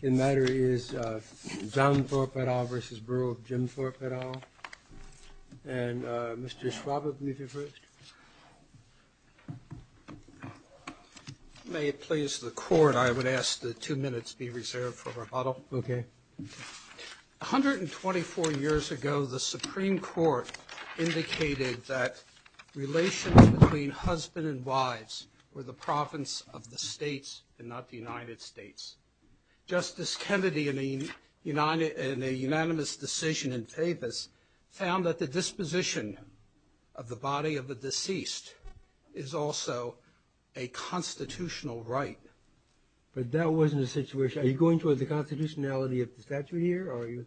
The matter is John Thorpe et al. versus Borough of Jim Thorpe et al. And Mr. Schwab, if you'd be so kind to be the first. May it please the Court, I would ask that two minutes be reserved for rebuttal. Okay. 124 years ago, the Supreme Court indicated that relations between husband and wives were the province of the states and not the United States. Justice Kennedy, in a unanimous decision in favor of this, found that the disposition of the body of the deceased is also a constitutional right. But that wasn't the situation. Are you going toward the constitutionality of the statute here?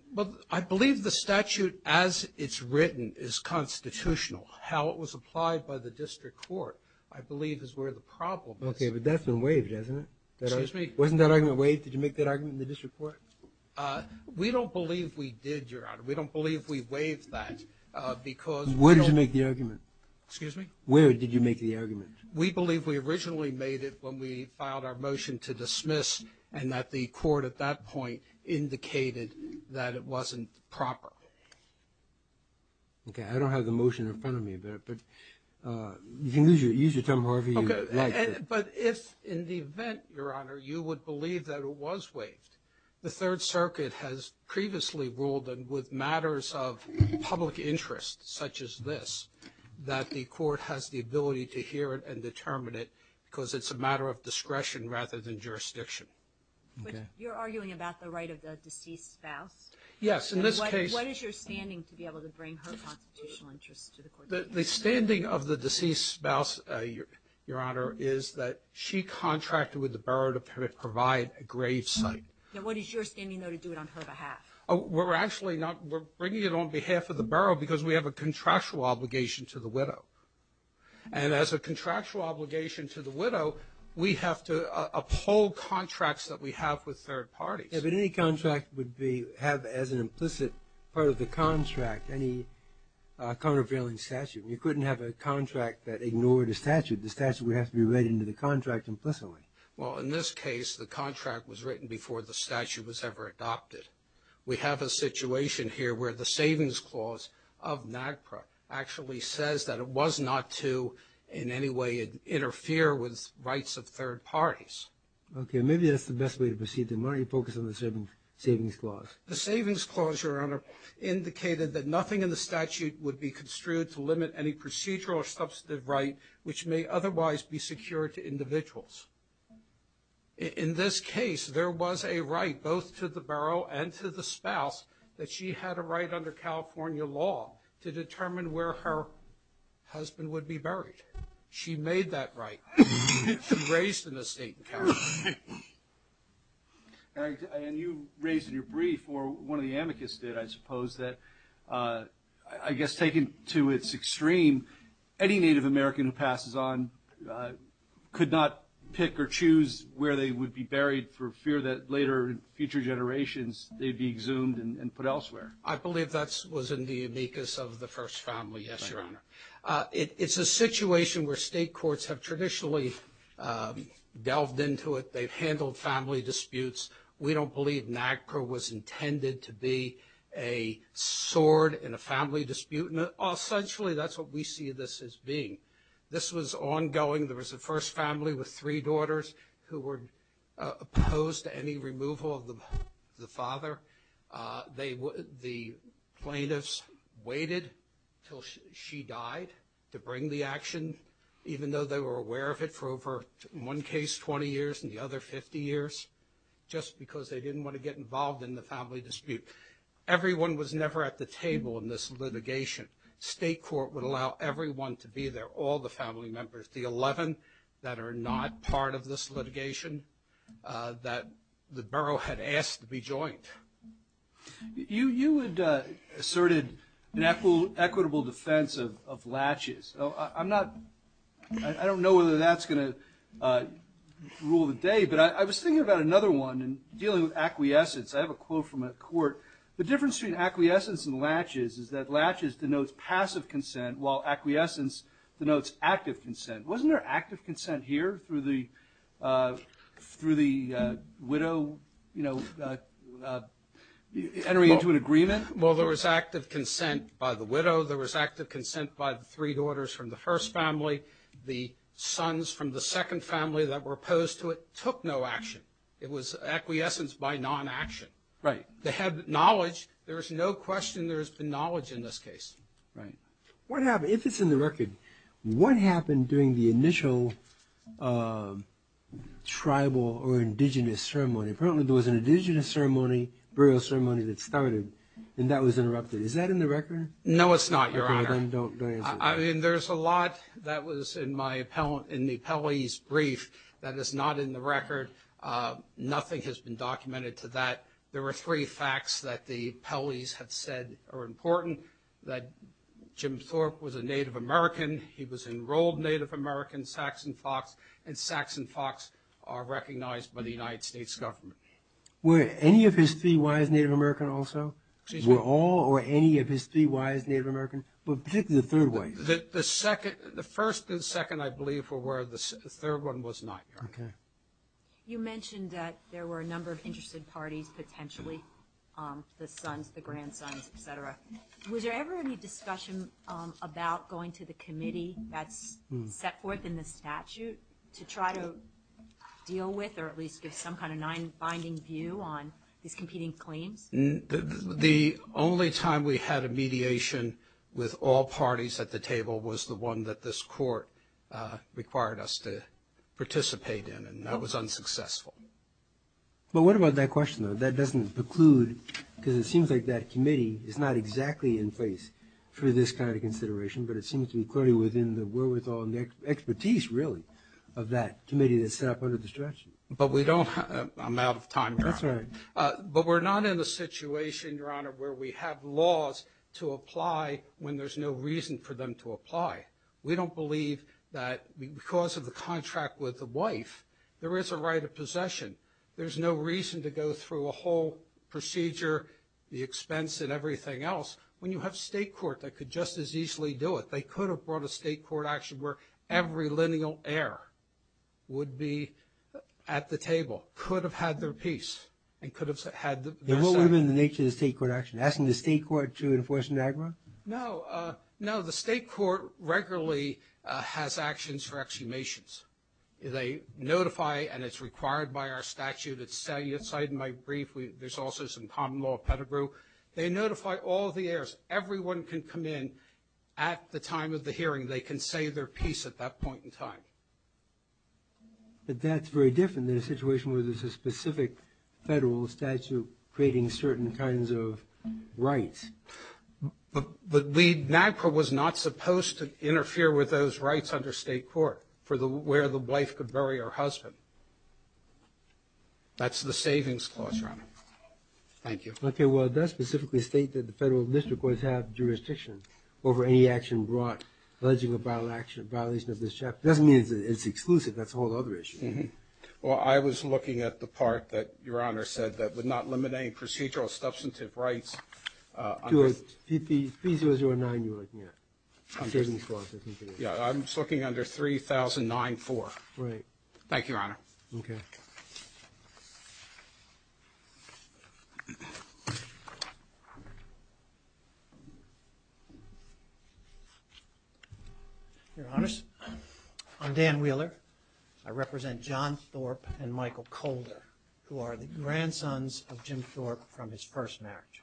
I believe the statute as it's written is constitutional. How it was applied by the district court, I believe, is where the problem is. Okay, but that's been waived, hasn't it? Excuse me? Wasn't that argument waived? Did you make that argument in the district court? We don't believe we did, Your Honor. We don't believe we waived that, because we don't... Where did you make the argument? Excuse me? Where did you make the argument? We believe we originally made it when we filed our motion to dismiss, and that the court at that point indicated that it wasn't proper. Okay, I don't have the motion in front of me, but you can use your term however you like. Okay, but if in the event, Your Honor, you would believe that it was waived, the Third Circuit has previously ruled that with matters of public interest, such as this, that the court has the ability to hear it and determine it, because it's a matter of discretion rather than jurisdiction. Okay. But you're arguing about the right of the deceased spouse? Yes, in this case... What is your standing to be able to bring her constitutional interests to the court? The standing of the deceased spouse, Your Honor, is that she contracted with the borough to provide a grave site. Now, what is your standing, though, to do it on her behalf? We're actually not... We're bringing it on behalf of the borough because we have a contractual obligation to the widow. And as a contractual obligation to the widow, we have to uphold contracts that we have with third parties. Yeah, but any contract would have as an implicit part of the contract any countervailing statute. You couldn't have a contract that ignored a statute. The statute would have to be read into the contract implicitly. Well, in this case, the contract was written before the statute was ever adopted. We have a situation here where the savings clause of NAGPRA actually says that it was not to, in any way, interfere with rights of third parties. Okay, maybe that's the best way to proceed, then. Why don't you focus on the savings clause? The savings clause, Your Honor, indicated that nothing in the statute would be construed to limit any procedural or substantive right which may otherwise be secured to individuals. In this case, there was a right both to the borough and to the spouse that she had a right under California law to determine where her husband would be buried. She made that right. Raised in a state in California. And you raised in your brief, or one of the amicus did, I suppose, that I guess taken to its extreme, any Native American who passes on could not pick or choose where they would be buried for fear that later, in future generations, they'd be exhumed and put elsewhere. I believe that was in the amicus of the first family, yes, Your Honor. It's a situation where state courts have traditionally delved into it. They've handled family disputes. We don't believe NAGPRA was intended to be a sword in a family dispute. And essentially, that's what we see this as being. This was ongoing. There was a first family with three daughters who were opposed to any removal of the father. The plaintiffs waited until she died to bring the action, even though they were aware of it for over, in one case, 20 years, in the other, 50 years, just because they didn't want to get involved in the family dispute. Everyone was never at the table in this litigation. State court would allow everyone to be there, all the family members. The 11 that are not part of this litigation that the borough had asked to be joined. You had asserted an equitable defense of latches. I don't know whether that's going to rule the day, but I was thinking about another one in dealing with acquiescence. I have a quote from a court. The difference between acquiescence and latches is that latches denotes passive consent, while Wasn't there active consent here through the widow entering into an agreement? Well, there was active consent by the widow. There was active consent by the three daughters from the first family. The sons from the second family that were opposed to it took no action. It was acquiescence by non-action. Right. They had knowledge. There is no question there has been knowledge in this case. Right. What happened, if it's in the record, what happened during the initial tribal or indigenous ceremony? Apparently there was an indigenous ceremony, burial ceremony that started, and that was interrupted. Is that in the record? No, it's not, Your Honor. Okay, then don't answer that. I mean, there's a lot that was in the appellee's brief that is not in the record. Nothing has been documented to that. There were three facts that the appellees have said are important, that Jim Thorpe was a Native American, he was enrolled Native American, Saxon Fox, and Saxon Fox are recognized by the United States government. Were any of his three wives Native American also? Excuse me? Were all or any of his three wives Native American, but particularly the third wife? The first and second, I believe, were where the third one was not, Your Honor. Okay. You mentioned that there were a number of interested parties potentially, the sons, the grandsons, et cetera. Was there ever any discussion about going to the committee that's set forth in the statute to try to deal with or at least give some kind of binding view on these competing claims? The only time we had a mediation with all parties at the table was the one that this was successful. But what about that question, though? That doesn't preclude, because it seems like that committee is not exactly in place for this kind of consideration, but it seems to be clearly within the wherewithal and the expertise really of that committee that's set up under the statute. But we don't have... I'm out of time, Your Honor. That's all right. But we're not in a situation, Your Honor, where we have laws to apply when there's no reason for them to apply. We don't believe that because of the contract with the wife, there is a right of possession. There's no reason to go through a whole procedure, the expense, and everything else. When you have state court that could just as easily do it, they could have brought a state court action where every lineal heir would be at the table, could have had their peace, and could have had their side. And what would have been the nature of the state court action? Asking the state court to enforce an aggra? No. No, the state court regularly has actions for exhumations. They notify, and it's required by our statute, it's cited in my brief. There's also some common law pedigree. They notify all the heirs. Everyone can come in at the time of the hearing. They can say their peace at that point in time. But that's very different than a situation where there's a specific federal statute creating certain kinds of rights. But the NAGPRA was not supposed to interfere with those rights under state court for where the wife could bury her husband. That's the savings clause, Your Honor. Thank you. Okay, well, does it specifically state that the federal district courts have jurisdiction over any action brought alleging a violation of this chapter? It doesn't mean it's exclusive. That's a whole other issue. Well, I was looking at the part that Your Honor said that would not limit any procedural substantive rights. To a P-009 you're looking at? Yeah, I'm just looking under 3009-4. Right. Thank you, Your Honor. Okay. Your Honors, I'm Dan Wheeler. I represent John Thorpe and Michael Colder, who are the grandsons of Jim Thorpe from his first marriage.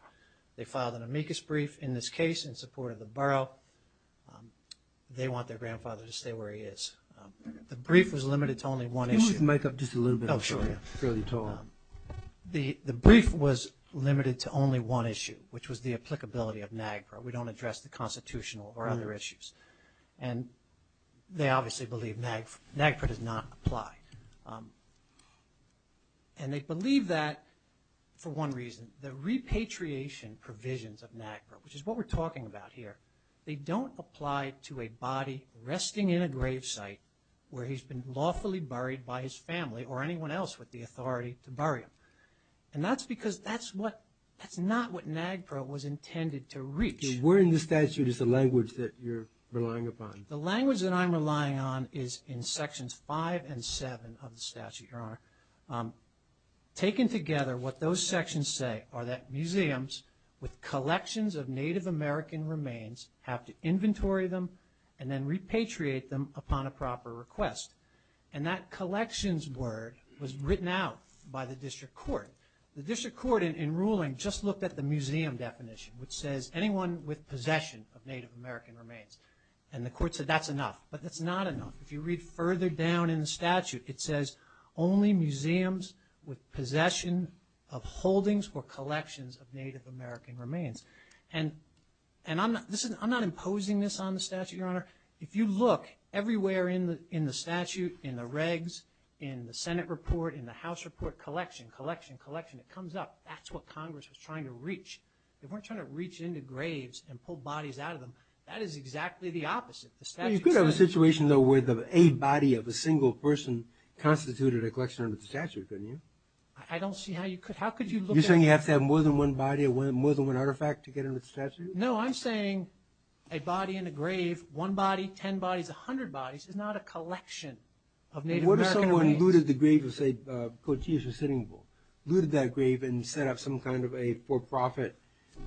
They filed an amicus brief in this case in support of the borough. They want their grandfather to stay where he is. The brief was limited to only one issue. Can you move the mic up just a little bit? Oh, sure, yeah. It's fairly tall. The brief was limited to only one issue, which was the applicability of NAGPRA. We don't address the constitutional or other issues. And they obviously believe NAGPRA does not apply. And they believe that for one reason, the repatriation provisions of NAGPRA, which is what we're talking about here, they don't apply to a body resting in a grave site where he's been lawfully buried by his family or anyone else with the authority to bury him. And that's because that's not what NAGPRA was intended to reach. So where in the statute is the language that you're relying upon? The language that I'm relying on is in Sections 5 and 7 of the statute, Your Honor. Taken together, what those sections say are that museums with collections of Native American remains have to inventory them and then repatriate them upon a proper request. And that collections word was written out by the district court. The district court, in ruling, just looked at the museum definition, which says anyone with possession of Native American remains. And the court said that's enough. But that's not enough. If you read further down in the statute, it says only museums with possession of holdings or collections of Native American remains. And I'm not imposing this on the statute, Your Honor. If you look everywhere in the statute, in the regs, in the Senate report, in the House report, collection, collection, collection, it comes up, that's what Congress was trying to reach. They weren't trying to reach into graves and pull bodies out of them. That is exactly the opposite. The statute says- Well, you could have a situation, though, where a body of a single person constituted a collection under the statute, couldn't you? I don't see how you could. How could you look at- You're saying you have to have more than one body or more than one artifact to get under the statute? No, I'm saying a body in a grave, one body, 10 bodies, 100 bodies, is not a collection of Native American remains. If someone looted the grave of, say, Cotilles or Sitting Bull, looted that grave and set up some kind of a for-profit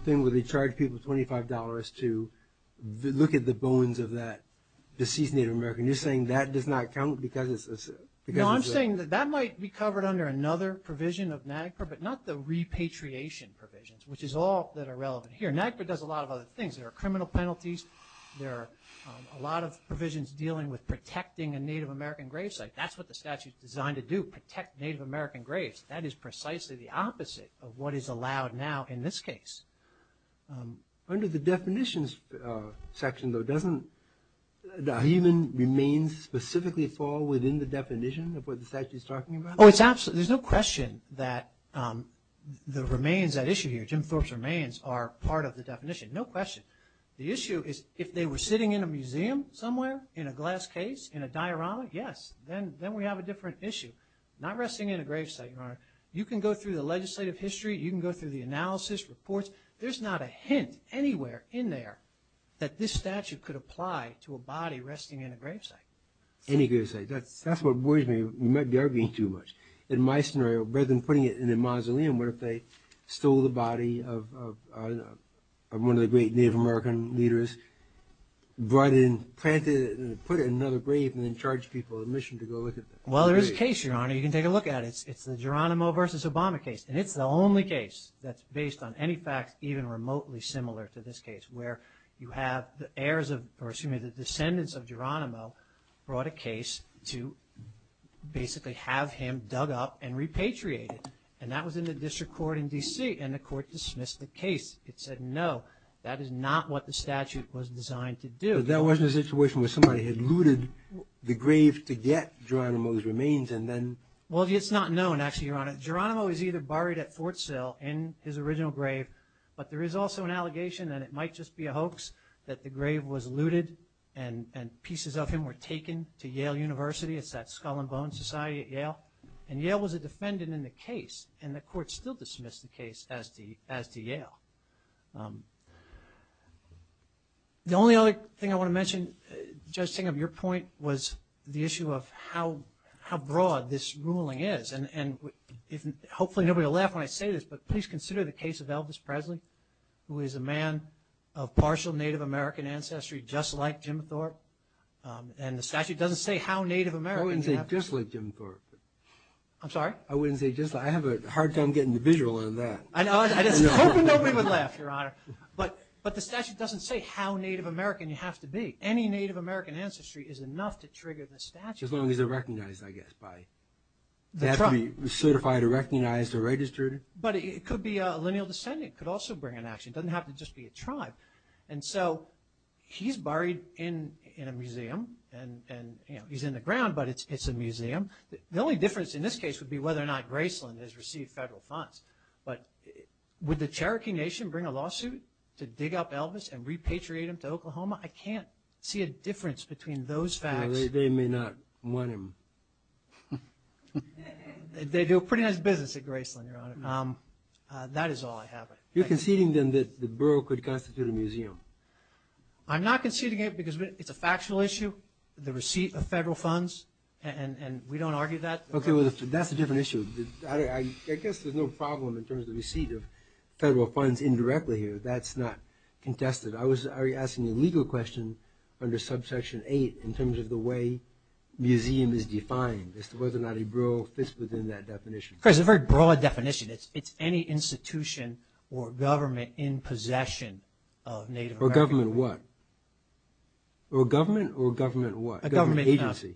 thing where they charge people $25 to look at the bones of that deceased Native American, you're saying that does not count because it's a- No, I'm saying that that might be covered under another provision of NAGPRA, but not the repatriation provisions, which is all that are relevant here. NAGPRA does a lot of other things. There are criminal penalties, there are a lot of provisions dealing with protecting a Native American grave site. That's what the statute's designed to do, protect Native American graves. That is precisely the opposite of what is allowed now in this case. Under the definitions section, though, doesn't the human remains specifically fall within the definition of what the statute's talking about? Oh, it's absolutely. There's no question that the remains, that issue here, Jim Thorpe's remains, are part of the definition. No question. The issue is if they were sitting in a museum somewhere, in a glass case, in a diorama, yes, then we have a different issue. Not resting in a grave site, Your Honor. You can go through the legislative history, you can go through the analysis reports, there's not a hint anywhere in there that this statute could apply to a body resting in a grave site. Any grave site. That's what worries me. You might be arguing too much. In my scenario, rather than putting it in a mausoleum, what if they stole the body of one of the great Native American leaders, brought it in, planted it, put it in another grave, and then charged people with admission to go look at it? Well, there is a case, Your Honor, you can take a look at it. It's the Geronimo v. Obama case, and it's the only case that's based on any fact even remotely similar to this case, where you have the heirs of, or excuse me, the descendants of Geronimo brought a case to basically have him dug up and repatriated, and that was in the case. It said, no, that is not what the statute was designed to do. But that wasn't a situation where somebody had looted the grave to get Geronimo's remains and then... Well, it's not known, actually, Your Honor. Geronimo is either buried at Fort Sill in his original grave, but there is also an allegation that it might just be a hoax, that the grave was looted and pieces of him were taken to Yale University, it's that Skull and Bone Society at Yale, and Yale was a defendant in the case, and the court still dismissed the case as to Yale. The only other thing I want to mention, Judge Singham, your point was the issue of how broad this ruling is, and hopefully nobody will laugh when I say this, but please consider the case of Elvis Presley, who is a man of partial Native American ancestry, just like Jim Thorpe, and the statute doesn't say how Native American... I wouldn't say just like Jim Thorpe. I'm sorry? I wouldn't say just like... I have a hard time getting the visual on that. I know. I was hoping nobody would laugh, Your Honor. But the statute doesn't say how Native American you have to be. Any Native American ancestry is enough to trigger the statute. As long as they're recognized, I guess, by... The tribe. They have to be certified or recognized or registered. But it could be a lineal descendant, it could also bring an action, it doesn't have to just be a tribe. And so, he's buried in a museum, and he's in the ground, but it's a museum. The only difference in this case would be whether or not Graceland has received federal funds. But would the Cherokee Nation bring a lawsuit to dig up Elvis and repatriate him to Oklahoma? I can't see a difference between those facts. They may not want him. They do a pretty nice business at Graceland, Your Honor. That is all I have. You're conceding, then, that the borough could constitute a museum? I'm not conceding it because it's a factual issue. The receipt of federal funds, and we don't argue that? Okay, well, that's a different issue. I guess there's no problem in terms of the receipt of federal funds indirectly here. That's not contested. I was asking a legal question under Subsection 8 in terms of the way museum is defined, as to whether or not a borough fits within that definition. Of course, it's a very broad definition. It's any institution or government in possession of Native American... Or government of what? A government agency. A government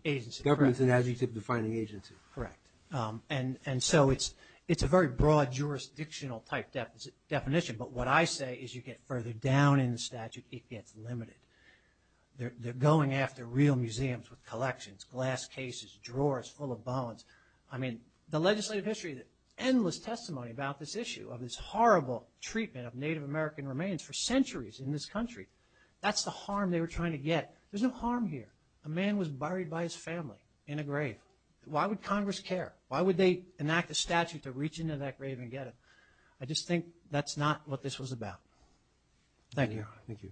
agency. Governments an adjective-defining agency. Correct. And so it's a very broad jurisdictional type definition. But what I say is you get further down in the statute, it gets limited. They're going after real museums with collections, glass cases, drawers full of bones. I mean, the legislative history, endless testimony about this issue, of this horrible treatment of Native American remains for centuries in this country. That's the harm they were trying to get. There's no harm here. A man was buried by his family in a grave. Why would Congress care? Why would they enact a statute to reach into that grave and get it? I just think that's not what this was about. Thank you. Thank you.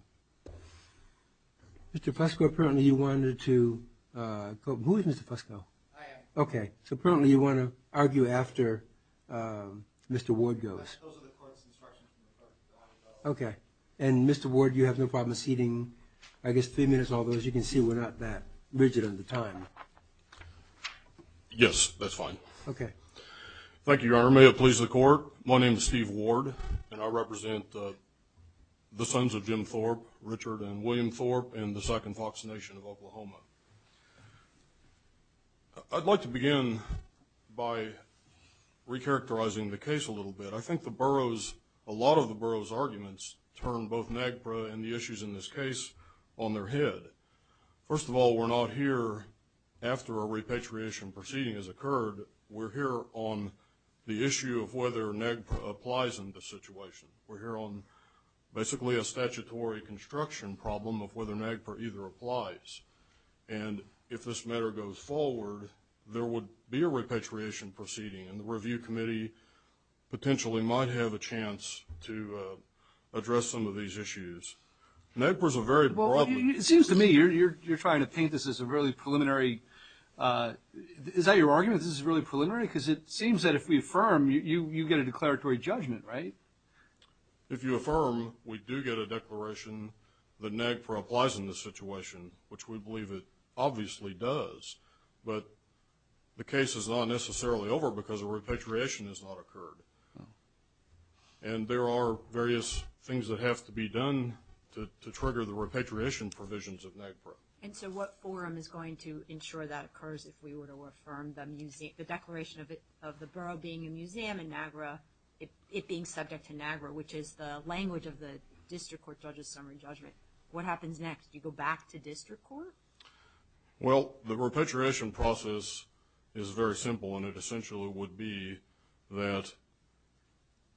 Mr. Fusco, apparently you wanted to, who is Mr. Fusco? I am. Okay. So apparently you want to argue after Mr. Ward goes. Yes. Those are the court's instructions. Okay. And, Mr. Ward, you have no problem acceding, I guess, three minutes, although, as you can see, we're not that rigid on the time. Yes. That's fine. Okay. Thank you, Your Honor. May it please the Court. My name is Steve Ward, and I represent the sons of Jim Thorpe, Richard, and William Thorpe in the Second Fox Nation of Oklahoma. I'd like to begin by recharacterizing the case a little bit. I think the borough's, a lot of the borough's arguments turn both NAGPRA and the issues in this case on their head. First of all, we're not here after a repatriation proceeding has occurred. We're here on the issue of whether NAGPRA applies in this situation. We're here on basically a statutory construction problem of whether NAGPRA either applies. And if this matter goes forward, there would be a repatriation proceeding, and the review committee potentially might have a chance to address some of these issues. NAGPRA's a very broad... Well, it seems to me you're trying to paint this as a really preliminary... Is that your argument, this is really preliminary? Because it seems that if we affirm, you get a declaratory judgment, right? If you affirm, we do get a declaration that NAGPRA applies in this situation, which we believe it obviously does. But the case is not necessarily over because a repatriation has not occurred. And there are various things that have to be done to trigger the repatriation provisions of NAGPRA. And so what forum is going to ensure that occurs if we were to affirm the declaration of the borough being a museum in NAGPRA, it being subject to NAGPRA, which is the language of the district court judge's summary judgment? What happens next? Do you go back to district court? Well, the repatriation process is very simple, and it essentially would be that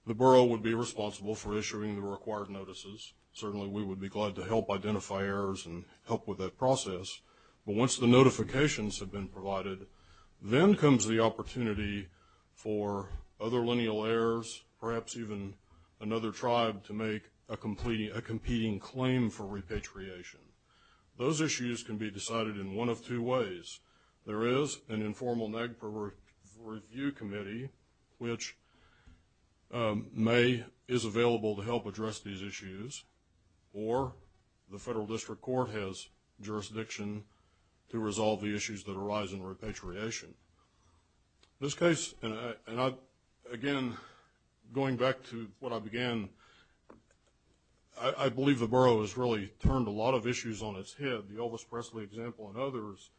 the borough would be responsible for issuing the required notices. Certainly, we would be glad to help identify errors and help with that process. But once the notifications have been provided, then comes the opportunity for other lineal heirs, perhaps even another tribe, to make a competing claim for repatriation. Those issues can be decided in one of two ways. There is an informal NAGPRA review committee, which is available to help address these issues, or the federal district court has jurisdiction to resolve the issues that arise in repatriation. This case, and again, going back to what I began, I believe the borough has really turned a lot of issues on its head, the Elvis Presley example and others.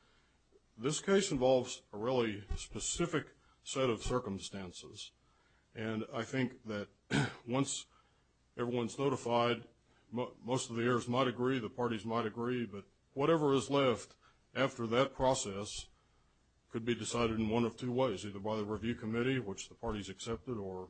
This case involves a really specific set of circumstances. And I think that once everyone's notified, most of the heirs might agree, the parties might agree, but whatever is left after that process could be decided in one of two ways, either by the review committee, which the parties accepted, or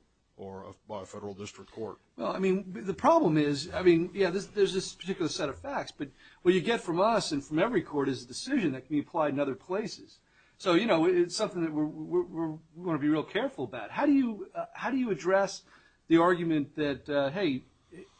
by a federal district court. Well, I mean, the problem is, I mean, yeah, there's this particular set of facts. But what you get from us and from every court is a decision that can be applied in other places. So, you know, it's something that we're going to be real careful about. How do you address the argument that, hey,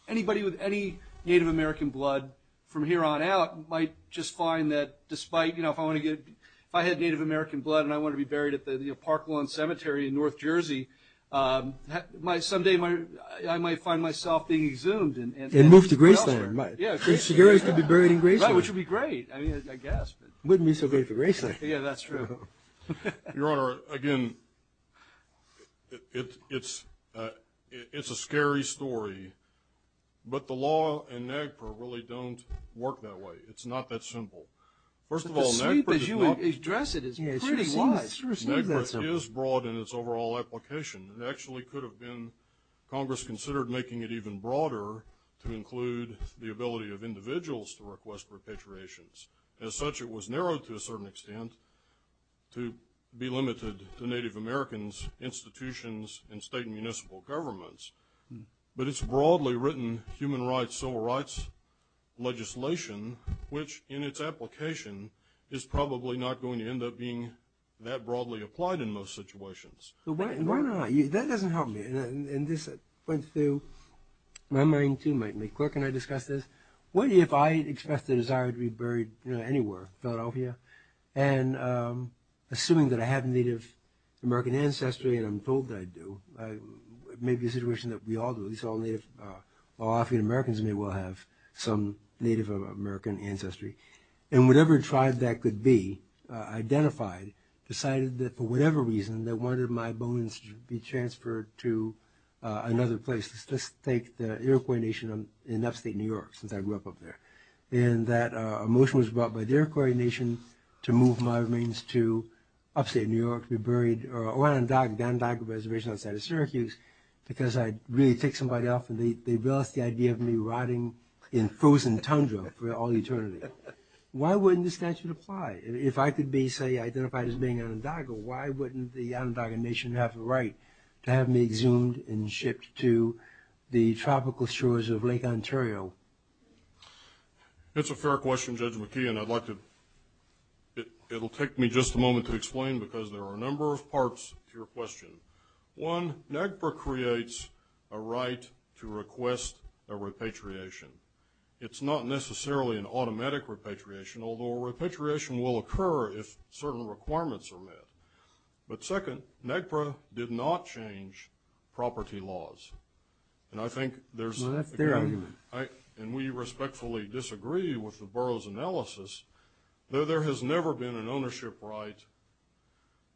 anybody with any Native American blood from here on out might just find that despite, you know, if I had Native American blood and I wanted to be buried at the Parklawn Cemetery in North Jersey, someday I might find myself being exhumed. And moved to Graceland. Yeah. And Segarra could be buried in Graceland. Right, which would be great, I mean, I guess. Wouldn't be so great for Graceland. Yeah, that's true. Your Honor, again, it's a scary story, but the law in NAGPRA really don't work that way. It's not that simple. First of all, NAGPRA does not... NAGPRA is broad in its overall application, and actually could have been, Congress considered making it even broader to include the ability of individuals to request repatriations. As such, it was narrowed to a certain extent to be limited to Native Americans institutions and state and municipal governments. But it's broadly written human rights, civil rights legislation, which in its application is probably not going to end up being that broadly applied in most situations. Why not? That doesn't help me. And this went through my mind too, my quirk, and I discussed this. What if I expressed a desire to be buried anywhere, Philadelphia? And assuming that I have Native American ancestry, and I'm told that I do, it may be a situation that we all do, these all Native, all African Americans may well have some Native American ancestry. And whatever tribe that could be identified, decided that for whatever reason, they wanted my bones to be transferred to another place. Let's take the Iroquois Nation in upstate New York, since I grew up up there. And that motion was brought by the Iroquois Nation to move my remains to upstate New York to be buried, or around Dondogon Reservation outside of Syracuse, because I'd really take somebody off, and they've lost the idea of me rotting in frozen tundra for all eternity. Why wouldn't this statute apply? If I could be, say, identified as being Onondaga, why wouldn't the Onondaga Nation have the right to have me exhumed and shipped to the tropical shores of Lake Ontario? It's a fair question, Judge McKee, and I'd like to... It'll take me just a moment to explain, because there are a number of parts to your question. One, NAGPRA creates a right to request a repatriation. It's not necessarily an automatic repatriation, although a repatriation will occur if certain requirements are met. But second, NAGPRA did not change property laws. And I think there's... Well, that's their argument. And we respectfully disagree with the borough's analysis, though there has never been an ownership right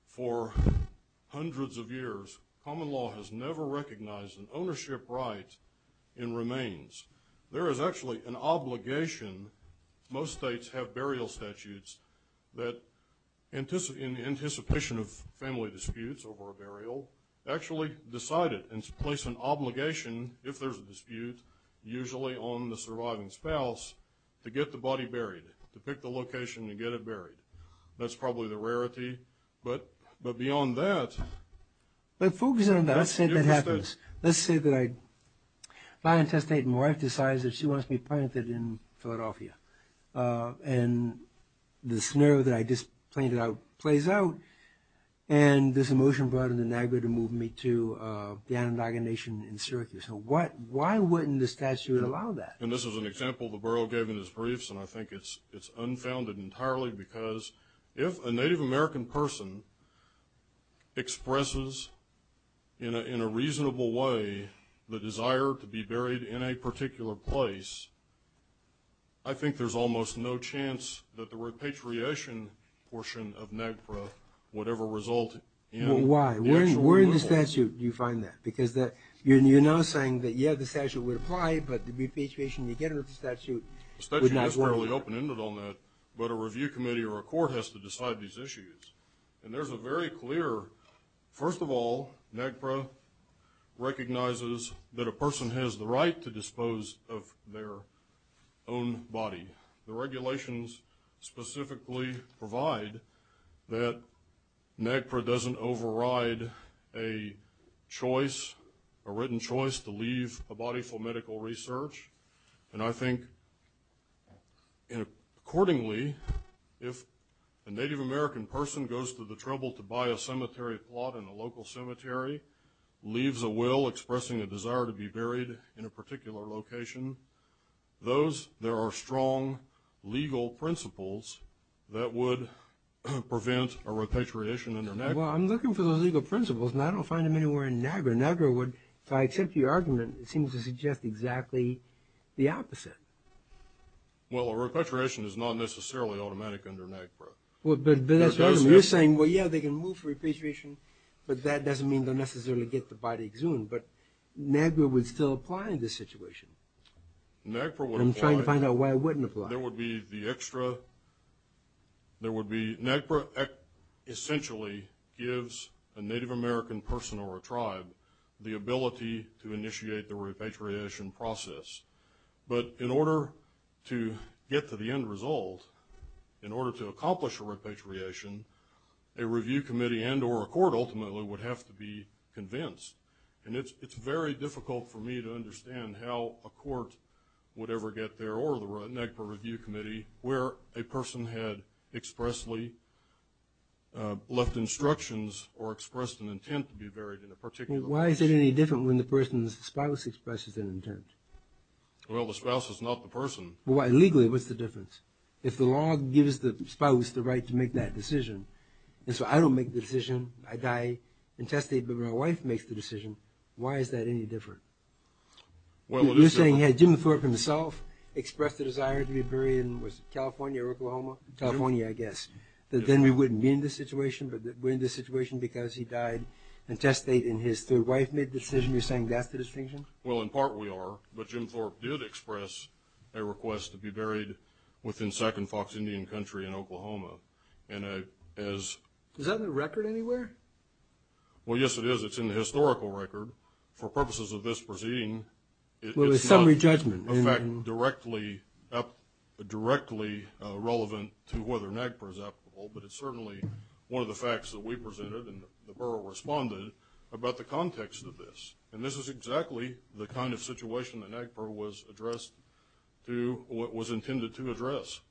for hundreds of years. Common law has never recognized an ownership right in remains. There is actually an obligation. Most states have burial statutes that, in anticipation of family disputes over a burial, actually decide it and place an obligation, if there's a dispute, usually on the surviving spouse, to get the body buried, to pick the location and get it buried. That's probably the rarity, but beyond that... But focusing on that, let's say that happens. Let's say that my intestate and wife decides that she wants me planted in Philadelphia. And the scenario that I just pointed out plays out, and there's a motion brought in the NAGPRA to move me to the Anadaga Nation in Syracuse. So why wouldn't the statute allow that? And this is an example the borough gave in its briefs, and I think it's unfounded entirely because if a Native American person expresses, in a reasonable way, the desire to be buried in a particular place, I think there's almost no chance that the repatriation portion of NAGPRA would ever result in... Why? Where in the statute do you find that? Because you're now saying that, yeah, the statute would apply, but the repatriation you get out of the statute would not work. The statute is fairly open-ended on that, but a review committee or a court has to decide these issues. And there's a very clear... First of all, NAGPRA recognizes that a person has the right to dispose of their own body. The regulations specifically provide that NAGPRA doesn't override a choice, a written choice, to leave a body for medical research. And I think, accordingly, if a Native American person goes to the trouble to buy a cemetery plot in a local cemetery, leaves a will expressing a desire to be buried in a particular location, there are strong legal principles that would prevent a repatriation under NAGPRA. Well, I'm looking for those legal principles, and I don't find them anywhere in NAGPRA. If I accept your argument, it seems to suggest exactly the opposite. Well, a repatriation is not necessarily automatic under NAGPRA. But that doesn't mean... You're saying, well, yeah, they can move for repatriation, but that doesn't mean they'll necessarily get the body exhumed. But NAGPRA would still apply in this situation. NAGPRA would apply... I'm trying to find out why it wouldn't apply. There would be the extra... NAGPRA essentially gives a Native American person or a tribe the ability to initiate the repatriation process. But in order to get to the end result, in order to accomplish a repatriation, a review committee and or a court ultimately would have to be convinced. And it's very difficult for me to understand how a court would ever get there or the NAGPRA review committee where a person had expressly left instructions or expressed an intent to be buried in a particular place. Why is it any different when the person's spouse expresses an intent? Well, the spouse is not the person. Well, legally, what's the difference? If the law gives the spouse the right to make that decision, and so I don't make the decision, I die intestate, but my wife makes the decision, why is that any different? You're saying had Jim Thorpe himself expressed the desire to be buried in California or Oklahoma? California, I guess. Then we wouldn't be in this situation, but we're in this situation because he died intestate and his third wife made the decision, you're saying that's the distinction? Well, in part we are, but Jim Thorpe did express a request to be buried within second Fox Indian country in Oklahoma. Is that in the record anywhere? Well, yes, it is. It's in the historical record. For purposes of this proceeding, it's not a fact directly relevant to whether NAGPRA is applicable, but it's certainly one of the facts that we presented and the borough responded about the context of this. And this is exactly the kind of situation that NAGPRA was intended to address.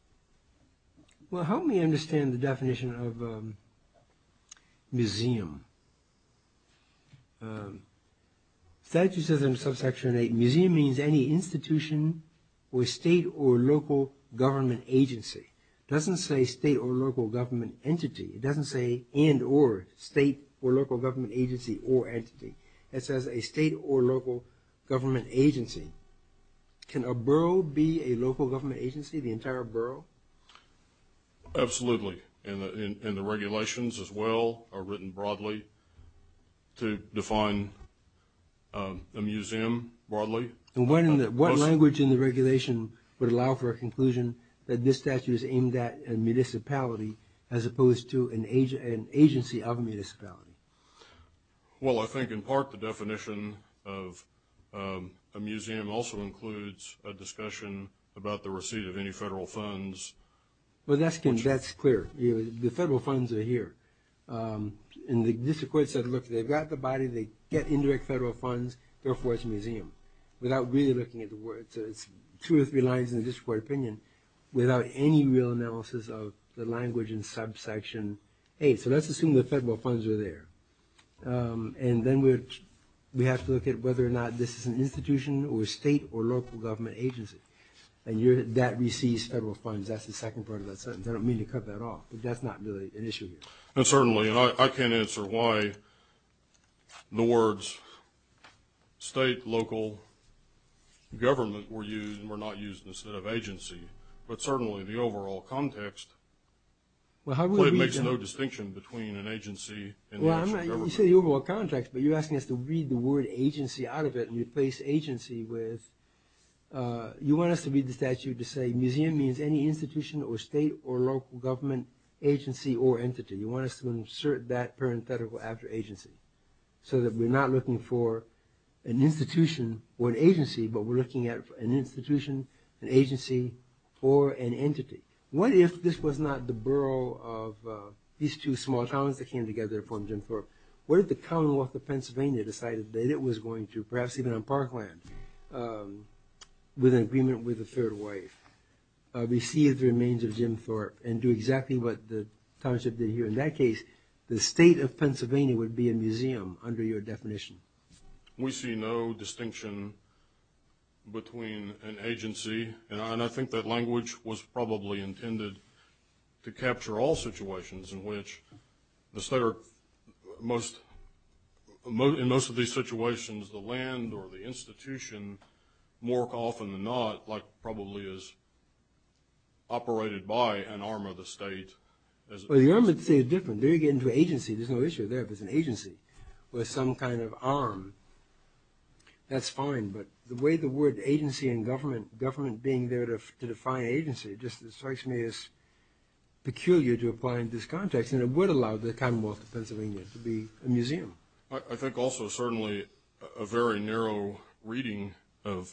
Well, help me understand the definition of museum. Statute says in subsection 8, museum means any institution or state or local government agency. It doesn't say state or local government entity. It doesn't say and or state or local government agency or entity. It says a state or local government agency. Can a borough be a local government agency? The entire borough? Absolutely. And the regulations as well are written broadly to define a museum broadly. And what language in the regulation would allow for a conclusion that this statute is aimed at a municipality as opposed to an agency of a municipality? Well, I think in part the definition of a museum also includes a discussion about the receipt of any federal funds. Well, that's clear. The federal funds are here. And the district court said, look, they've got the body, they get indirect federal funds, therefore it's a museum. Without really looking at the words, it's two or three lines in the district court opinion without any real analysis of the language in subsection 8. So let's assume the federal funds are there. And then we have to look at whether or not this is an institution or a state or local government agency. And that receives federal funds. That's the second part of that sentence. I don't mean to cut that off. But that's not really an issue here. And certainly, and I can't answer why the words state, local, government were used and were not used instead of agency. But certainly the overall context makes no distinction between an agency and national government. Well, you say the overall context, but you're asking us to read the word agency out of it and replace agency with, you want us to read the statute to say museum means any institution or state or local government agency or entity. You want us to insert that parenthetical after agency. So that we're not looking for an institution or an agency, but we're looking at an institution, an agency, or an entity. What if this was not the borough of these two small towns that came together to form Jim Thorpe? What if the Commonwealth of Pennsylvania decided that it was going to, perhaps even on parkland, with an agreement with a third wife, receive the remains of Jim Thorpe and do exactly what the township did here? In that case, the state of Pennsylvania would be a museum under your definition. We see no distinction between an agency, and I think that language was probably intended to capture all situations in which the state or most, in most of these situations, the land or the institution, more often than not, like probably is operated by an arm of the state. Well, the arm of the state is different. There you get into agency. There's no issue there if it's an agency or some kind of arm. That's fine, but the way the word agency and government, government being there to apply in this context, and it would allow the Commonwealth of Pennsylvania to be a museum. I think also certainly a very narrow reading of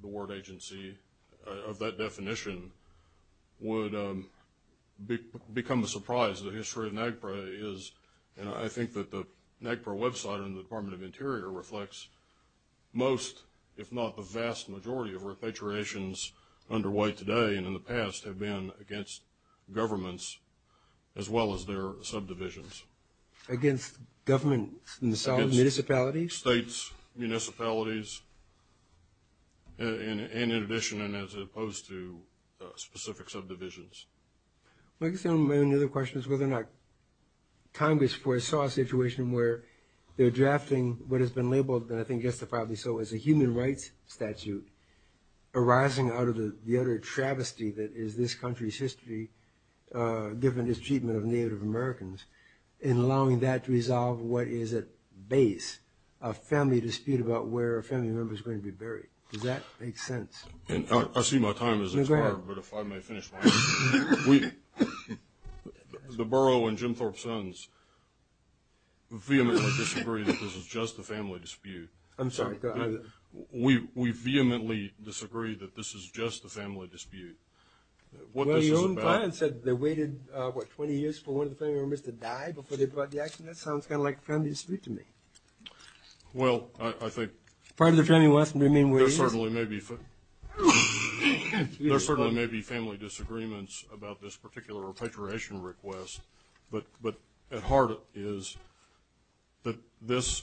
the word agency, of that definition, would become a surprise. The history of NAGPRA is, and I think that the NAGPRA website and the Department of Interior reflects most, if not the vast majority, of repatriations underway today and in the past have been against governments as well as their subdivisions. Against governments in the solid municipalities? Against states, municipalities, and in addition and as opposed to specific subdivisions. I guess my only other question is whether or not Congress foresaw a situation where they're drafting what has been labeled, and I think justifiably so, as a human rights statute arising out of the utter travesty that is this country's history, given its treatment of Native Americans, and allowing that to resolve what is at base a family dispute about where a family member is going to be buried. Does that make sense? I see my time is expired, but if I may finish my answer. The Burrough and Jim Thorpe Sons vehemently disagree that this is just a family dispute. I'm sorry. We vehemently disagree that this is just a family dispute. What this is about... Well, your own client said they waited, what, 20 years for one of the family members to die before they brought the action. That sounds kind of like a family dispute to me. Well, I think... Part of the family wants to remain where it is. There certainly may be family disagreements about this particular repatriation request, but at heart is that this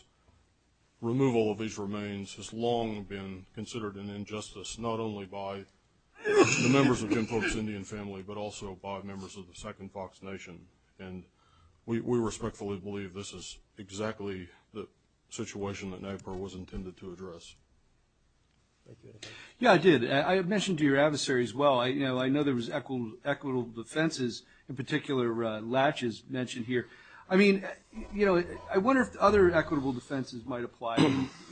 removal of these remains has long been considered an injustice not only by the members of Jim Thorpe's Indian family, but also by members of the Second Fox Nation, and we respectfully believe this is exactly the situation that NAGPRA was intended to address. Thank you. Yeah, I did. I mentioned to your adversary as well, I know there was equitable defenses, in particular Latches mentioned here. I mean, you know, I wonder if other equitable defenses might apply.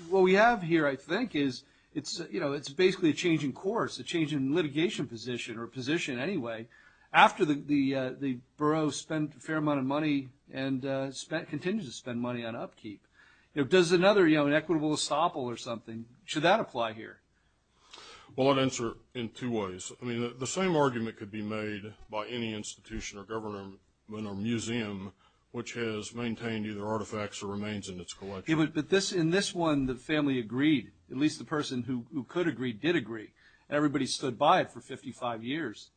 What we have here, I think, is it's basically a change in course, a change in litigation position, or position anyway, after the borough spent a fair amount of money and continues to spend money on upkeep. Does another, you know, an equitable estoppel or something, should that apply here? Well, I'd answer in two ways. I mean, the same argument could be made by any institution or government or museum which has maintained either artifacts or remains in its collection. But in this one, the family agreed. At least the person who could agree did agree. Everybody stood by it for 55 years.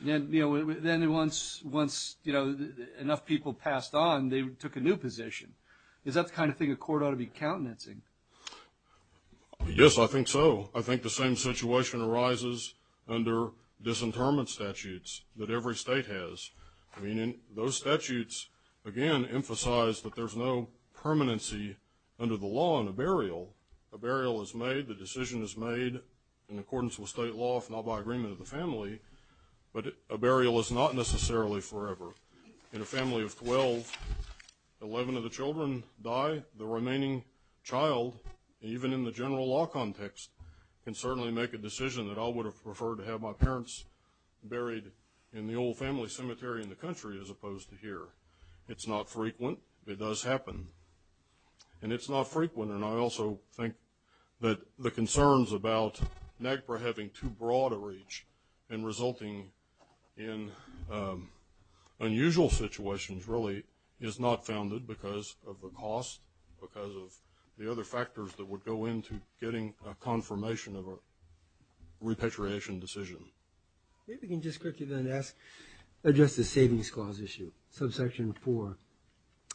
Then, you know, once, you know, enough people passed on, they took a new position. Is that the kind of thing a court ought to be countenancing? Yes, I think so. I think the same situation arises under disinterment statutes that every state has. I mean, those statutes, again, emphasize that there's no permanency under the law in a burial. A burial is made, the decision is made in accordance with state law, if not by agreement of the family. But a burial is not necessarily forever. In a family of 12, 11 of the children die, the remaining child, even in the general law context, can certainly make a decision that I would have preferred to have my parents buried in the old family cemetery in the country as opposed to here. It's not frequent. It does happen. And it's not frequent, and I also think that the concerns about NAGPRA having too broad a reach and resulting in unusual situations really is not founded because of the cost, because of the other factors that would go into getting a confirmation of a repatriation decision. If we can just quickly then address the Savings Clause issue, subsection 4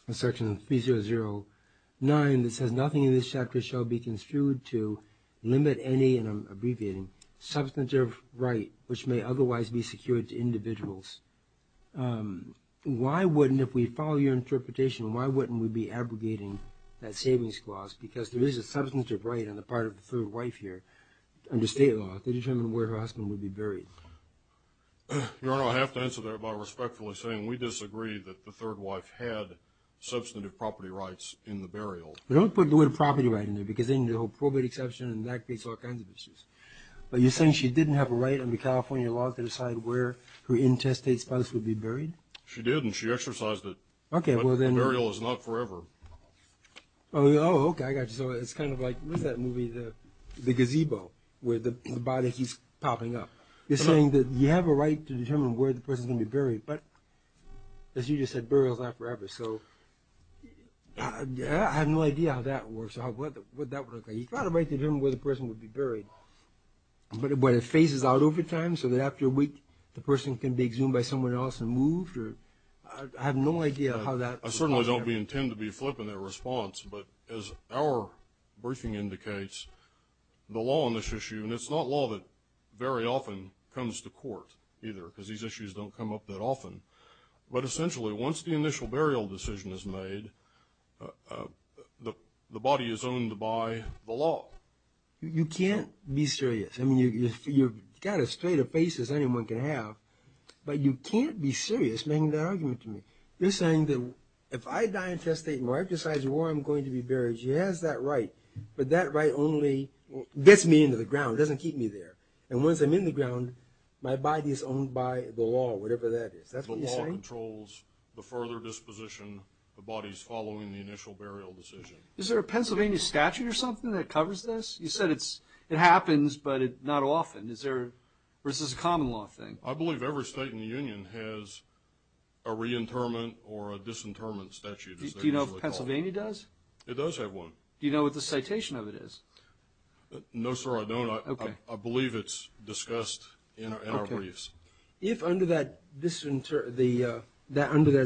of section 3009 that says, Nothing in this chapter shall be construed to limit any, and I'm abbreviating, substantive right which may otherwise be secured to individuals. Why wouldn't, if we follow your interpretation, why wouldn't we be abrogating that Savings Clause? Because there is a substantive right on the part of the third wife here under state law to determine where her husband would be buried. Your Honor, I have to answer that by respectfully saying we disagree that the third wife had substantive property rights in the burial. But don't put the word property right in there because then you have probate exception and that creates all kinds of issues. But you're saying she didn't have a right under California law to decide where her intestines would be buried? She did and she exercised it, but the burial is not forever. Oh, okay, I got you. So it's kind of like, what is that movie, The Gazebo, where the body keeps popping up. You're saying that you have a right to determine where the person is going to be buried, but as you just said, burial is not forever. So I have no idea how that works or how that would work. You've got a right to determine where the person would be buried, but it phases out over time so that after a week, the person can be exhumed by someone else and moved? I have no idea how that would work. I certainly don't intend to be flipping that response, but as our briefing indicates, the law on this issue, and it's not law that very often comes to court either because these issues don't come up that often. But essentially, once the initial burial decision is made, the body is owned by the law. You can't be serious. You've got as straight a face as anyone can have, but you can't be serious making that argument to me. You're saying that if I die intestate and my wife decides where I'm going to be buried, she has that right, but that right only gets me into the ground. It doesn't keep me there. And once I'm in the ground, my body is owned by the law, whatever that is. That's what you're saying? The law controls the further disposition the body's following the initial burial decision. Is there a Pennsylvania statute or something that covers this? You said it happens, but not often. Or is this a common law thing? I believe every state in the union has a reinterment or a disinterment statute. Do you know if Pennsylvania does? It does have one. Do you know what the citation of it is? No, sir, I don't. I believe it's discussed in our briefs. If under that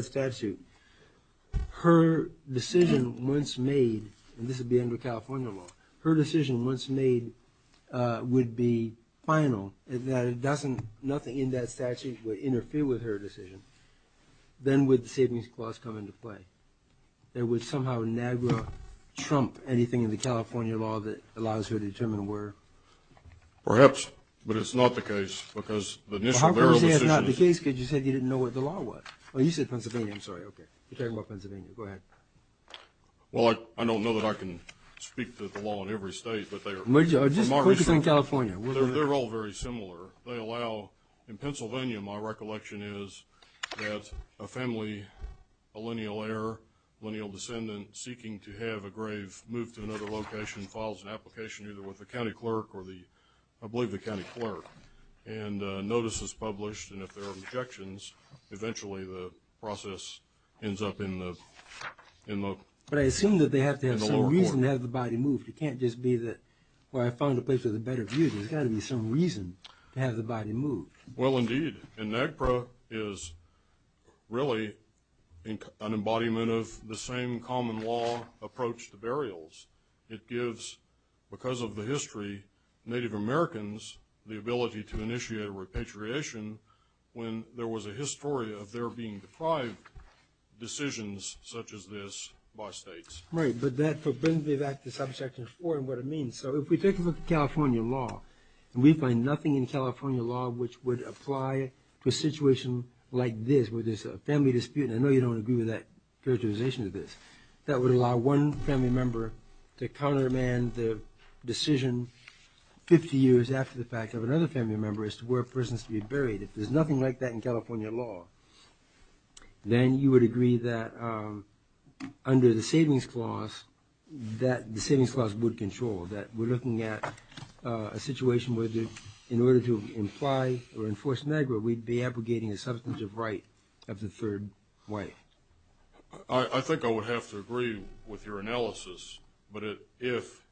statute, her decision once made, and this would be under California law, her decision once made would be final, that nothing in that statute would interfere with her decision, then would the Savings Clause come into play? It would somehow nag her, trump anything in the California law that allows her to determine where? Perhaps, but it's not the case because the initial burial decision... Well, how can you say it's not the case because you said you didn't know what the law was? Oh, you said Pennsylvania. I'm sorry, okay. You're talking about Pennsylvania. Go ahead. Well, I don't know that I can speak to the law in every state, but they are... Just focus on California. They're all very similar. They allow, in Pennsylvania, my recollection is that a family, a lineal heir, lineal descendant, seeking to have a grave moved to another location, files an application either with the county clerk or the, I believe the county clerk, and a notice is published, and if there are eventually, the process ends up in the lower court. But I assume that they have to have some reason to have the body moved. It can't just be that, well, I found a place with a better view. There's got to be some reason to have the body moved. Well, indeed, and NAGPRA is really an embodiment of the same common law approach to burials. It gives, because of the history, Native Americans the ability to initiate a repatriation when there was a history of their being deprived decisions such as this by states. Right, but that brings me back to Subsection 4 and what it means. So if we take a look at California law, and we find nothing in California law which would apply to a situation like this, where there's a family dispute, and I know you don't agree with that characterization of this, that would allow one family member to countermand the If there's nothing like that in California law, then you would agree that under the Savings Clause, that the Savings Clause would control, that we're looking at a situation where in order to imply or enforce NAGPRA, we'd be abrogating a substantive right of the third wife. I think I would have to agree with your analysis, but if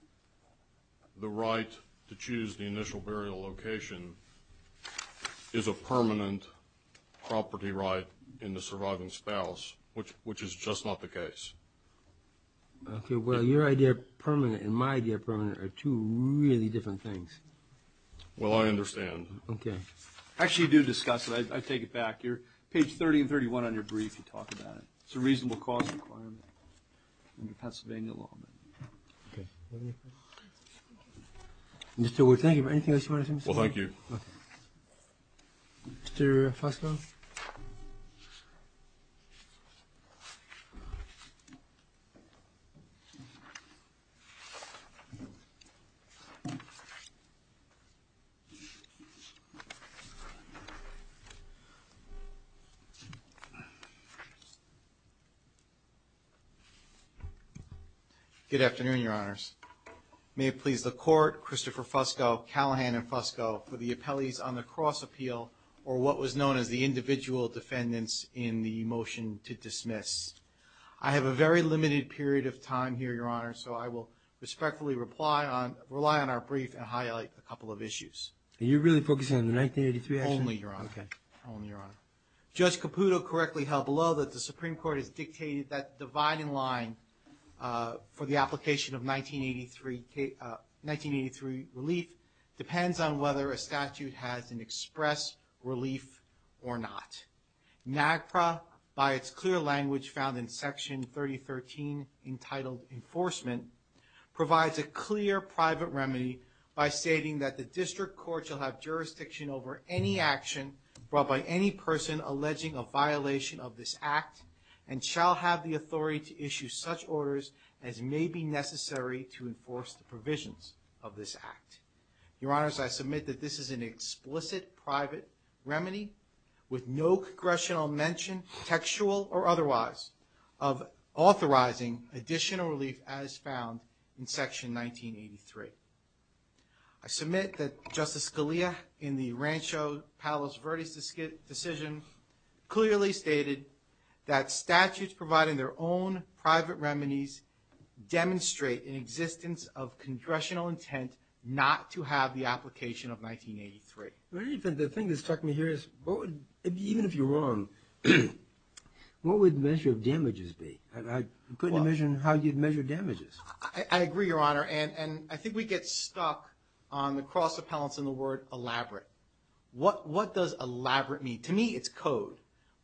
the right to choose the initial burial location is a permanent property right in the surviving spouse, which is just not the case. Okay, well, your idea of permanent and my idea of permanent are two really different things. Well, I understand. Okay. Actually, you do discuss it. I take it back. You're, page 30 and 31 on your brief, you talk about it. It's a reasonable cause requirement under Pennsylvania law. Okay. Mr. Wood, thank you. Anything else you want to say, Mr. Wood? Well, thank you. Okay. Mr. Fosco? Good afternoon, Your Honors. May it please the Court, Christopher Fosco, Callahan and Fosco, for the appellees on the individual defendants in the motion to dismiss. I have a very limited period of time here, Your Honor, so I will respectfully rely on our brief and highlight a couple of issues. Are you really focusing on the 1983 action? Only, Your Honor. Okay. Only, Your Honor. Judge Caputo correctly held below that the Supreme Court has dictated that the dividing line for the application of 1983 relief depends on whether a statute has an express relief or not. NAGPRA, by its clear language found in Section 3013 entitled Enforcement, provides a clear private remedy by stating that the district court shall have jurisdiction over any action brought by any person alleging a violation of this act and shall have the authority to issue such orders as may be necessary to enforce the provisions of this act. Your Honors, I submit that this is an explicit private remedy with no congressional mention textual or otherwise of authorizing additional relief as found in Section 1983. I submit that Justice Scalia in the Rancho Palos Verdes decision clearly stated that statutes providing their own private remedies demonstrate an existence of congressional intent not to have the application of 1983. The thing that struck me here is, even if you're wrong, what would the measure of damages be? I couldn't imagine how you'd measure damages. I agree, Your Honor, and I think we get stuck on the cross appellants and the word elaborate. What does elaborate mean? To me, it's code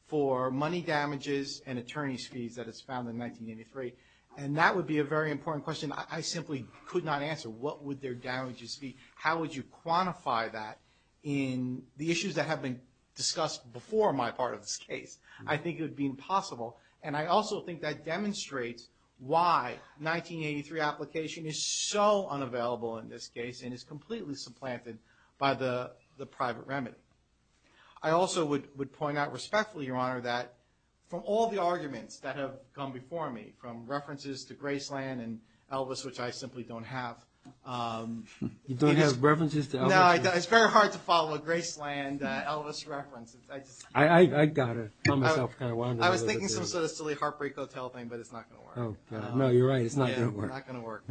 for money damages and attorney's fees that is found in 1983, and that would be a very important question I simply could not answer. What would their damages be? How would you quantify that in the issues that have been discussed before my part of this case? I think it would be impossible, and I also think that demonstrates why 1983 application is so unavailable in this case and is completely supplanted by the private remedy. I also would point out respectfully, Your Honor, that from all the arguments that have come before me, from references to Graceland and Elvis, which I simply don't have. You don't have references to Elvis? No, it's very hard to follow a Graceland-Elvis reference. I got it. I was thinking some sort of silly heartbreak hotel thing, but it's not going to work. No, you're right. It's not going to work. It's not going to work.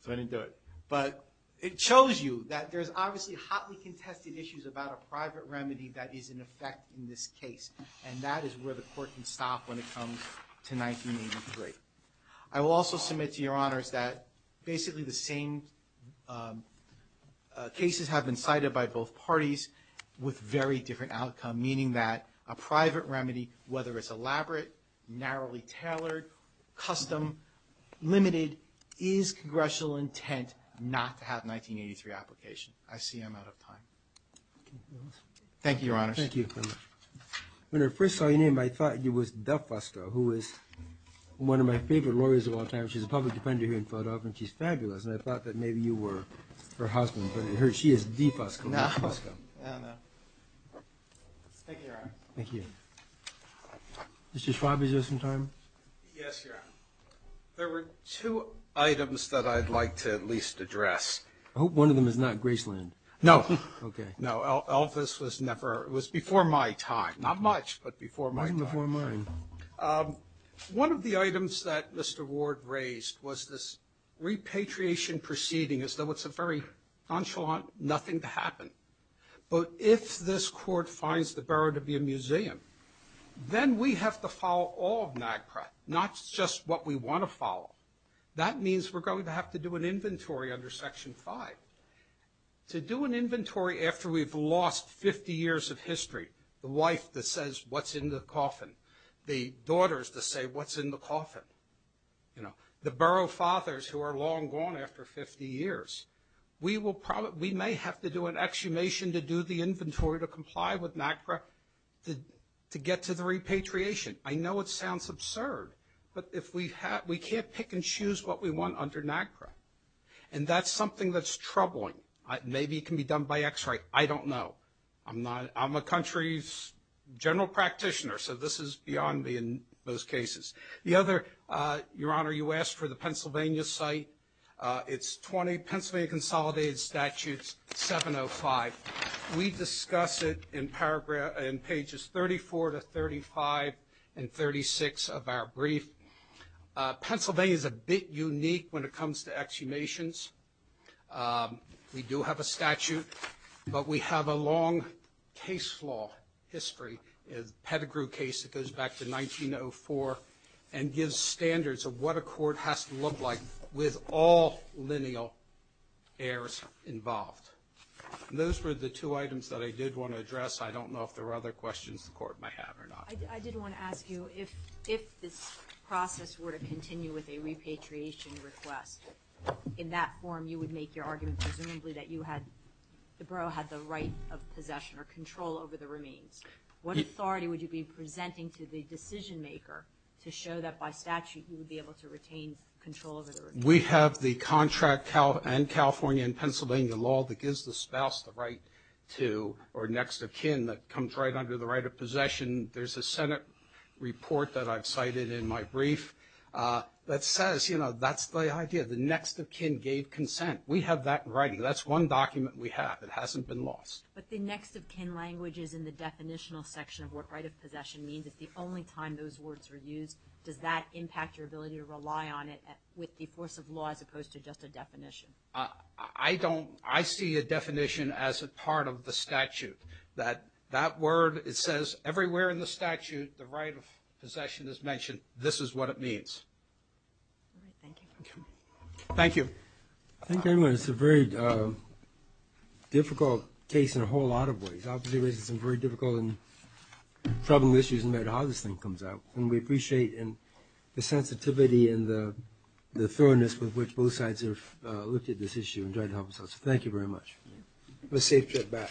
So I didn't do it. But it shows you that there's obviously hotly contested issues about a private remedy that is in effect in this case, and that is where the court can stop when it comes to 1983. I will also submit to Your Honors that basically the same cases have been cited by both parties with very different outcome, meaning that a private remedy, whether it's elaborate, narrowly tailored, custom, limited, is congressional intent not to have 1983 application. I see I'm out of time. Thank you, Your Honors. Thank you. When I first saw your name, I thought it was DeFusco, who is one of my favorite lawyers of all time. She's a public defender here in Philadelphia, and she's fabulous. And I thought that maybe you were her husband, but she is DeFusco, not Fusco. No. No, no. Thank you, Your Honor. Thank you. Mr. Schwab, is there some time? Yes, Your Honor. There were two items that I'd like to at least address. I hope one of them is not Graceland. No. Okay. No, Elvis was never. It was before my time. Not much, but before my time. It wasn't before mine. One of the items that Mr. Ward raised was this repatriation proceeding, as though it's a very nonchalant nothing to happen. But if this Court finds the borough to be a museum, then we have to follow all of NAGPRA, not just what we want to follow. That means we're going to have to do an inventory under Section 5. To do an inventory after we've lost 50 years of history, the wife that says what's in the coffin, the daughters that say what's in the coffin, the borough fathers who are long gone after 50 years, we may have to do an exhumation to do the inventory to comply with NAGPRA to get to the repatriation. I know it sounds absurd, but we can't pick and choose what we want under NAGPRA. And that's something that's troubling. Maybe it can be done by X-ray. I don't know. I'm a country's general practitioner, so this is beyond me in those cases. The other, Your Honor, you asked for the Pennsylvania site. It's 20 Pennsylvania Consolidated Statutes 705. We discuss it in pages 34 to 35 and 36 of our brief. Pennsylvania is a bit unique when it comes to exhumations. We do have a statute, but we have a long case law history, a Pettigrew case that goes back to 1904 and gives standards of what a court has to look like with all lineal heirs involved. Those were the two items that I did want to address. I don't know if there are other questions the court may have or not. I did want to ask you if this process were to continue with a repatriation request, in that form you would make your argument presumably that the borough had the right of possession or control over the remains. What authority would you be presenting to the decision maker to show that by statute you would be able to retain control over the remains? We have the contract and California and Pennsylvania law that gives the spouse the right to or next of kin that comes right under the right of possession. There's a Senate report that I've cited in my brief that says, you know, that's the idea. The next of kin gave consent. We have that right. That's one document we have. It hasn't been lost. But the next of kin language is in the definitional section of what right of possession means. If the only time those words were used, does that impact your ability to rely on it with the force of law as opposed to just a definition? I don't. I see a definition as a part of the statute. That word, it says everywhere in the statute the right of possession is mentioned. This is what it means. Thank you. Thank you, everyone. It's a very difficult case in a whole lot of ways. Obviously it raises some very difficult and troubling issues in how this thing comes out. And we appreciate the sensitivity and the thoroughness with which both sides have looked at this issue and tried to help us out. So thank you very much. Have a safe trip back.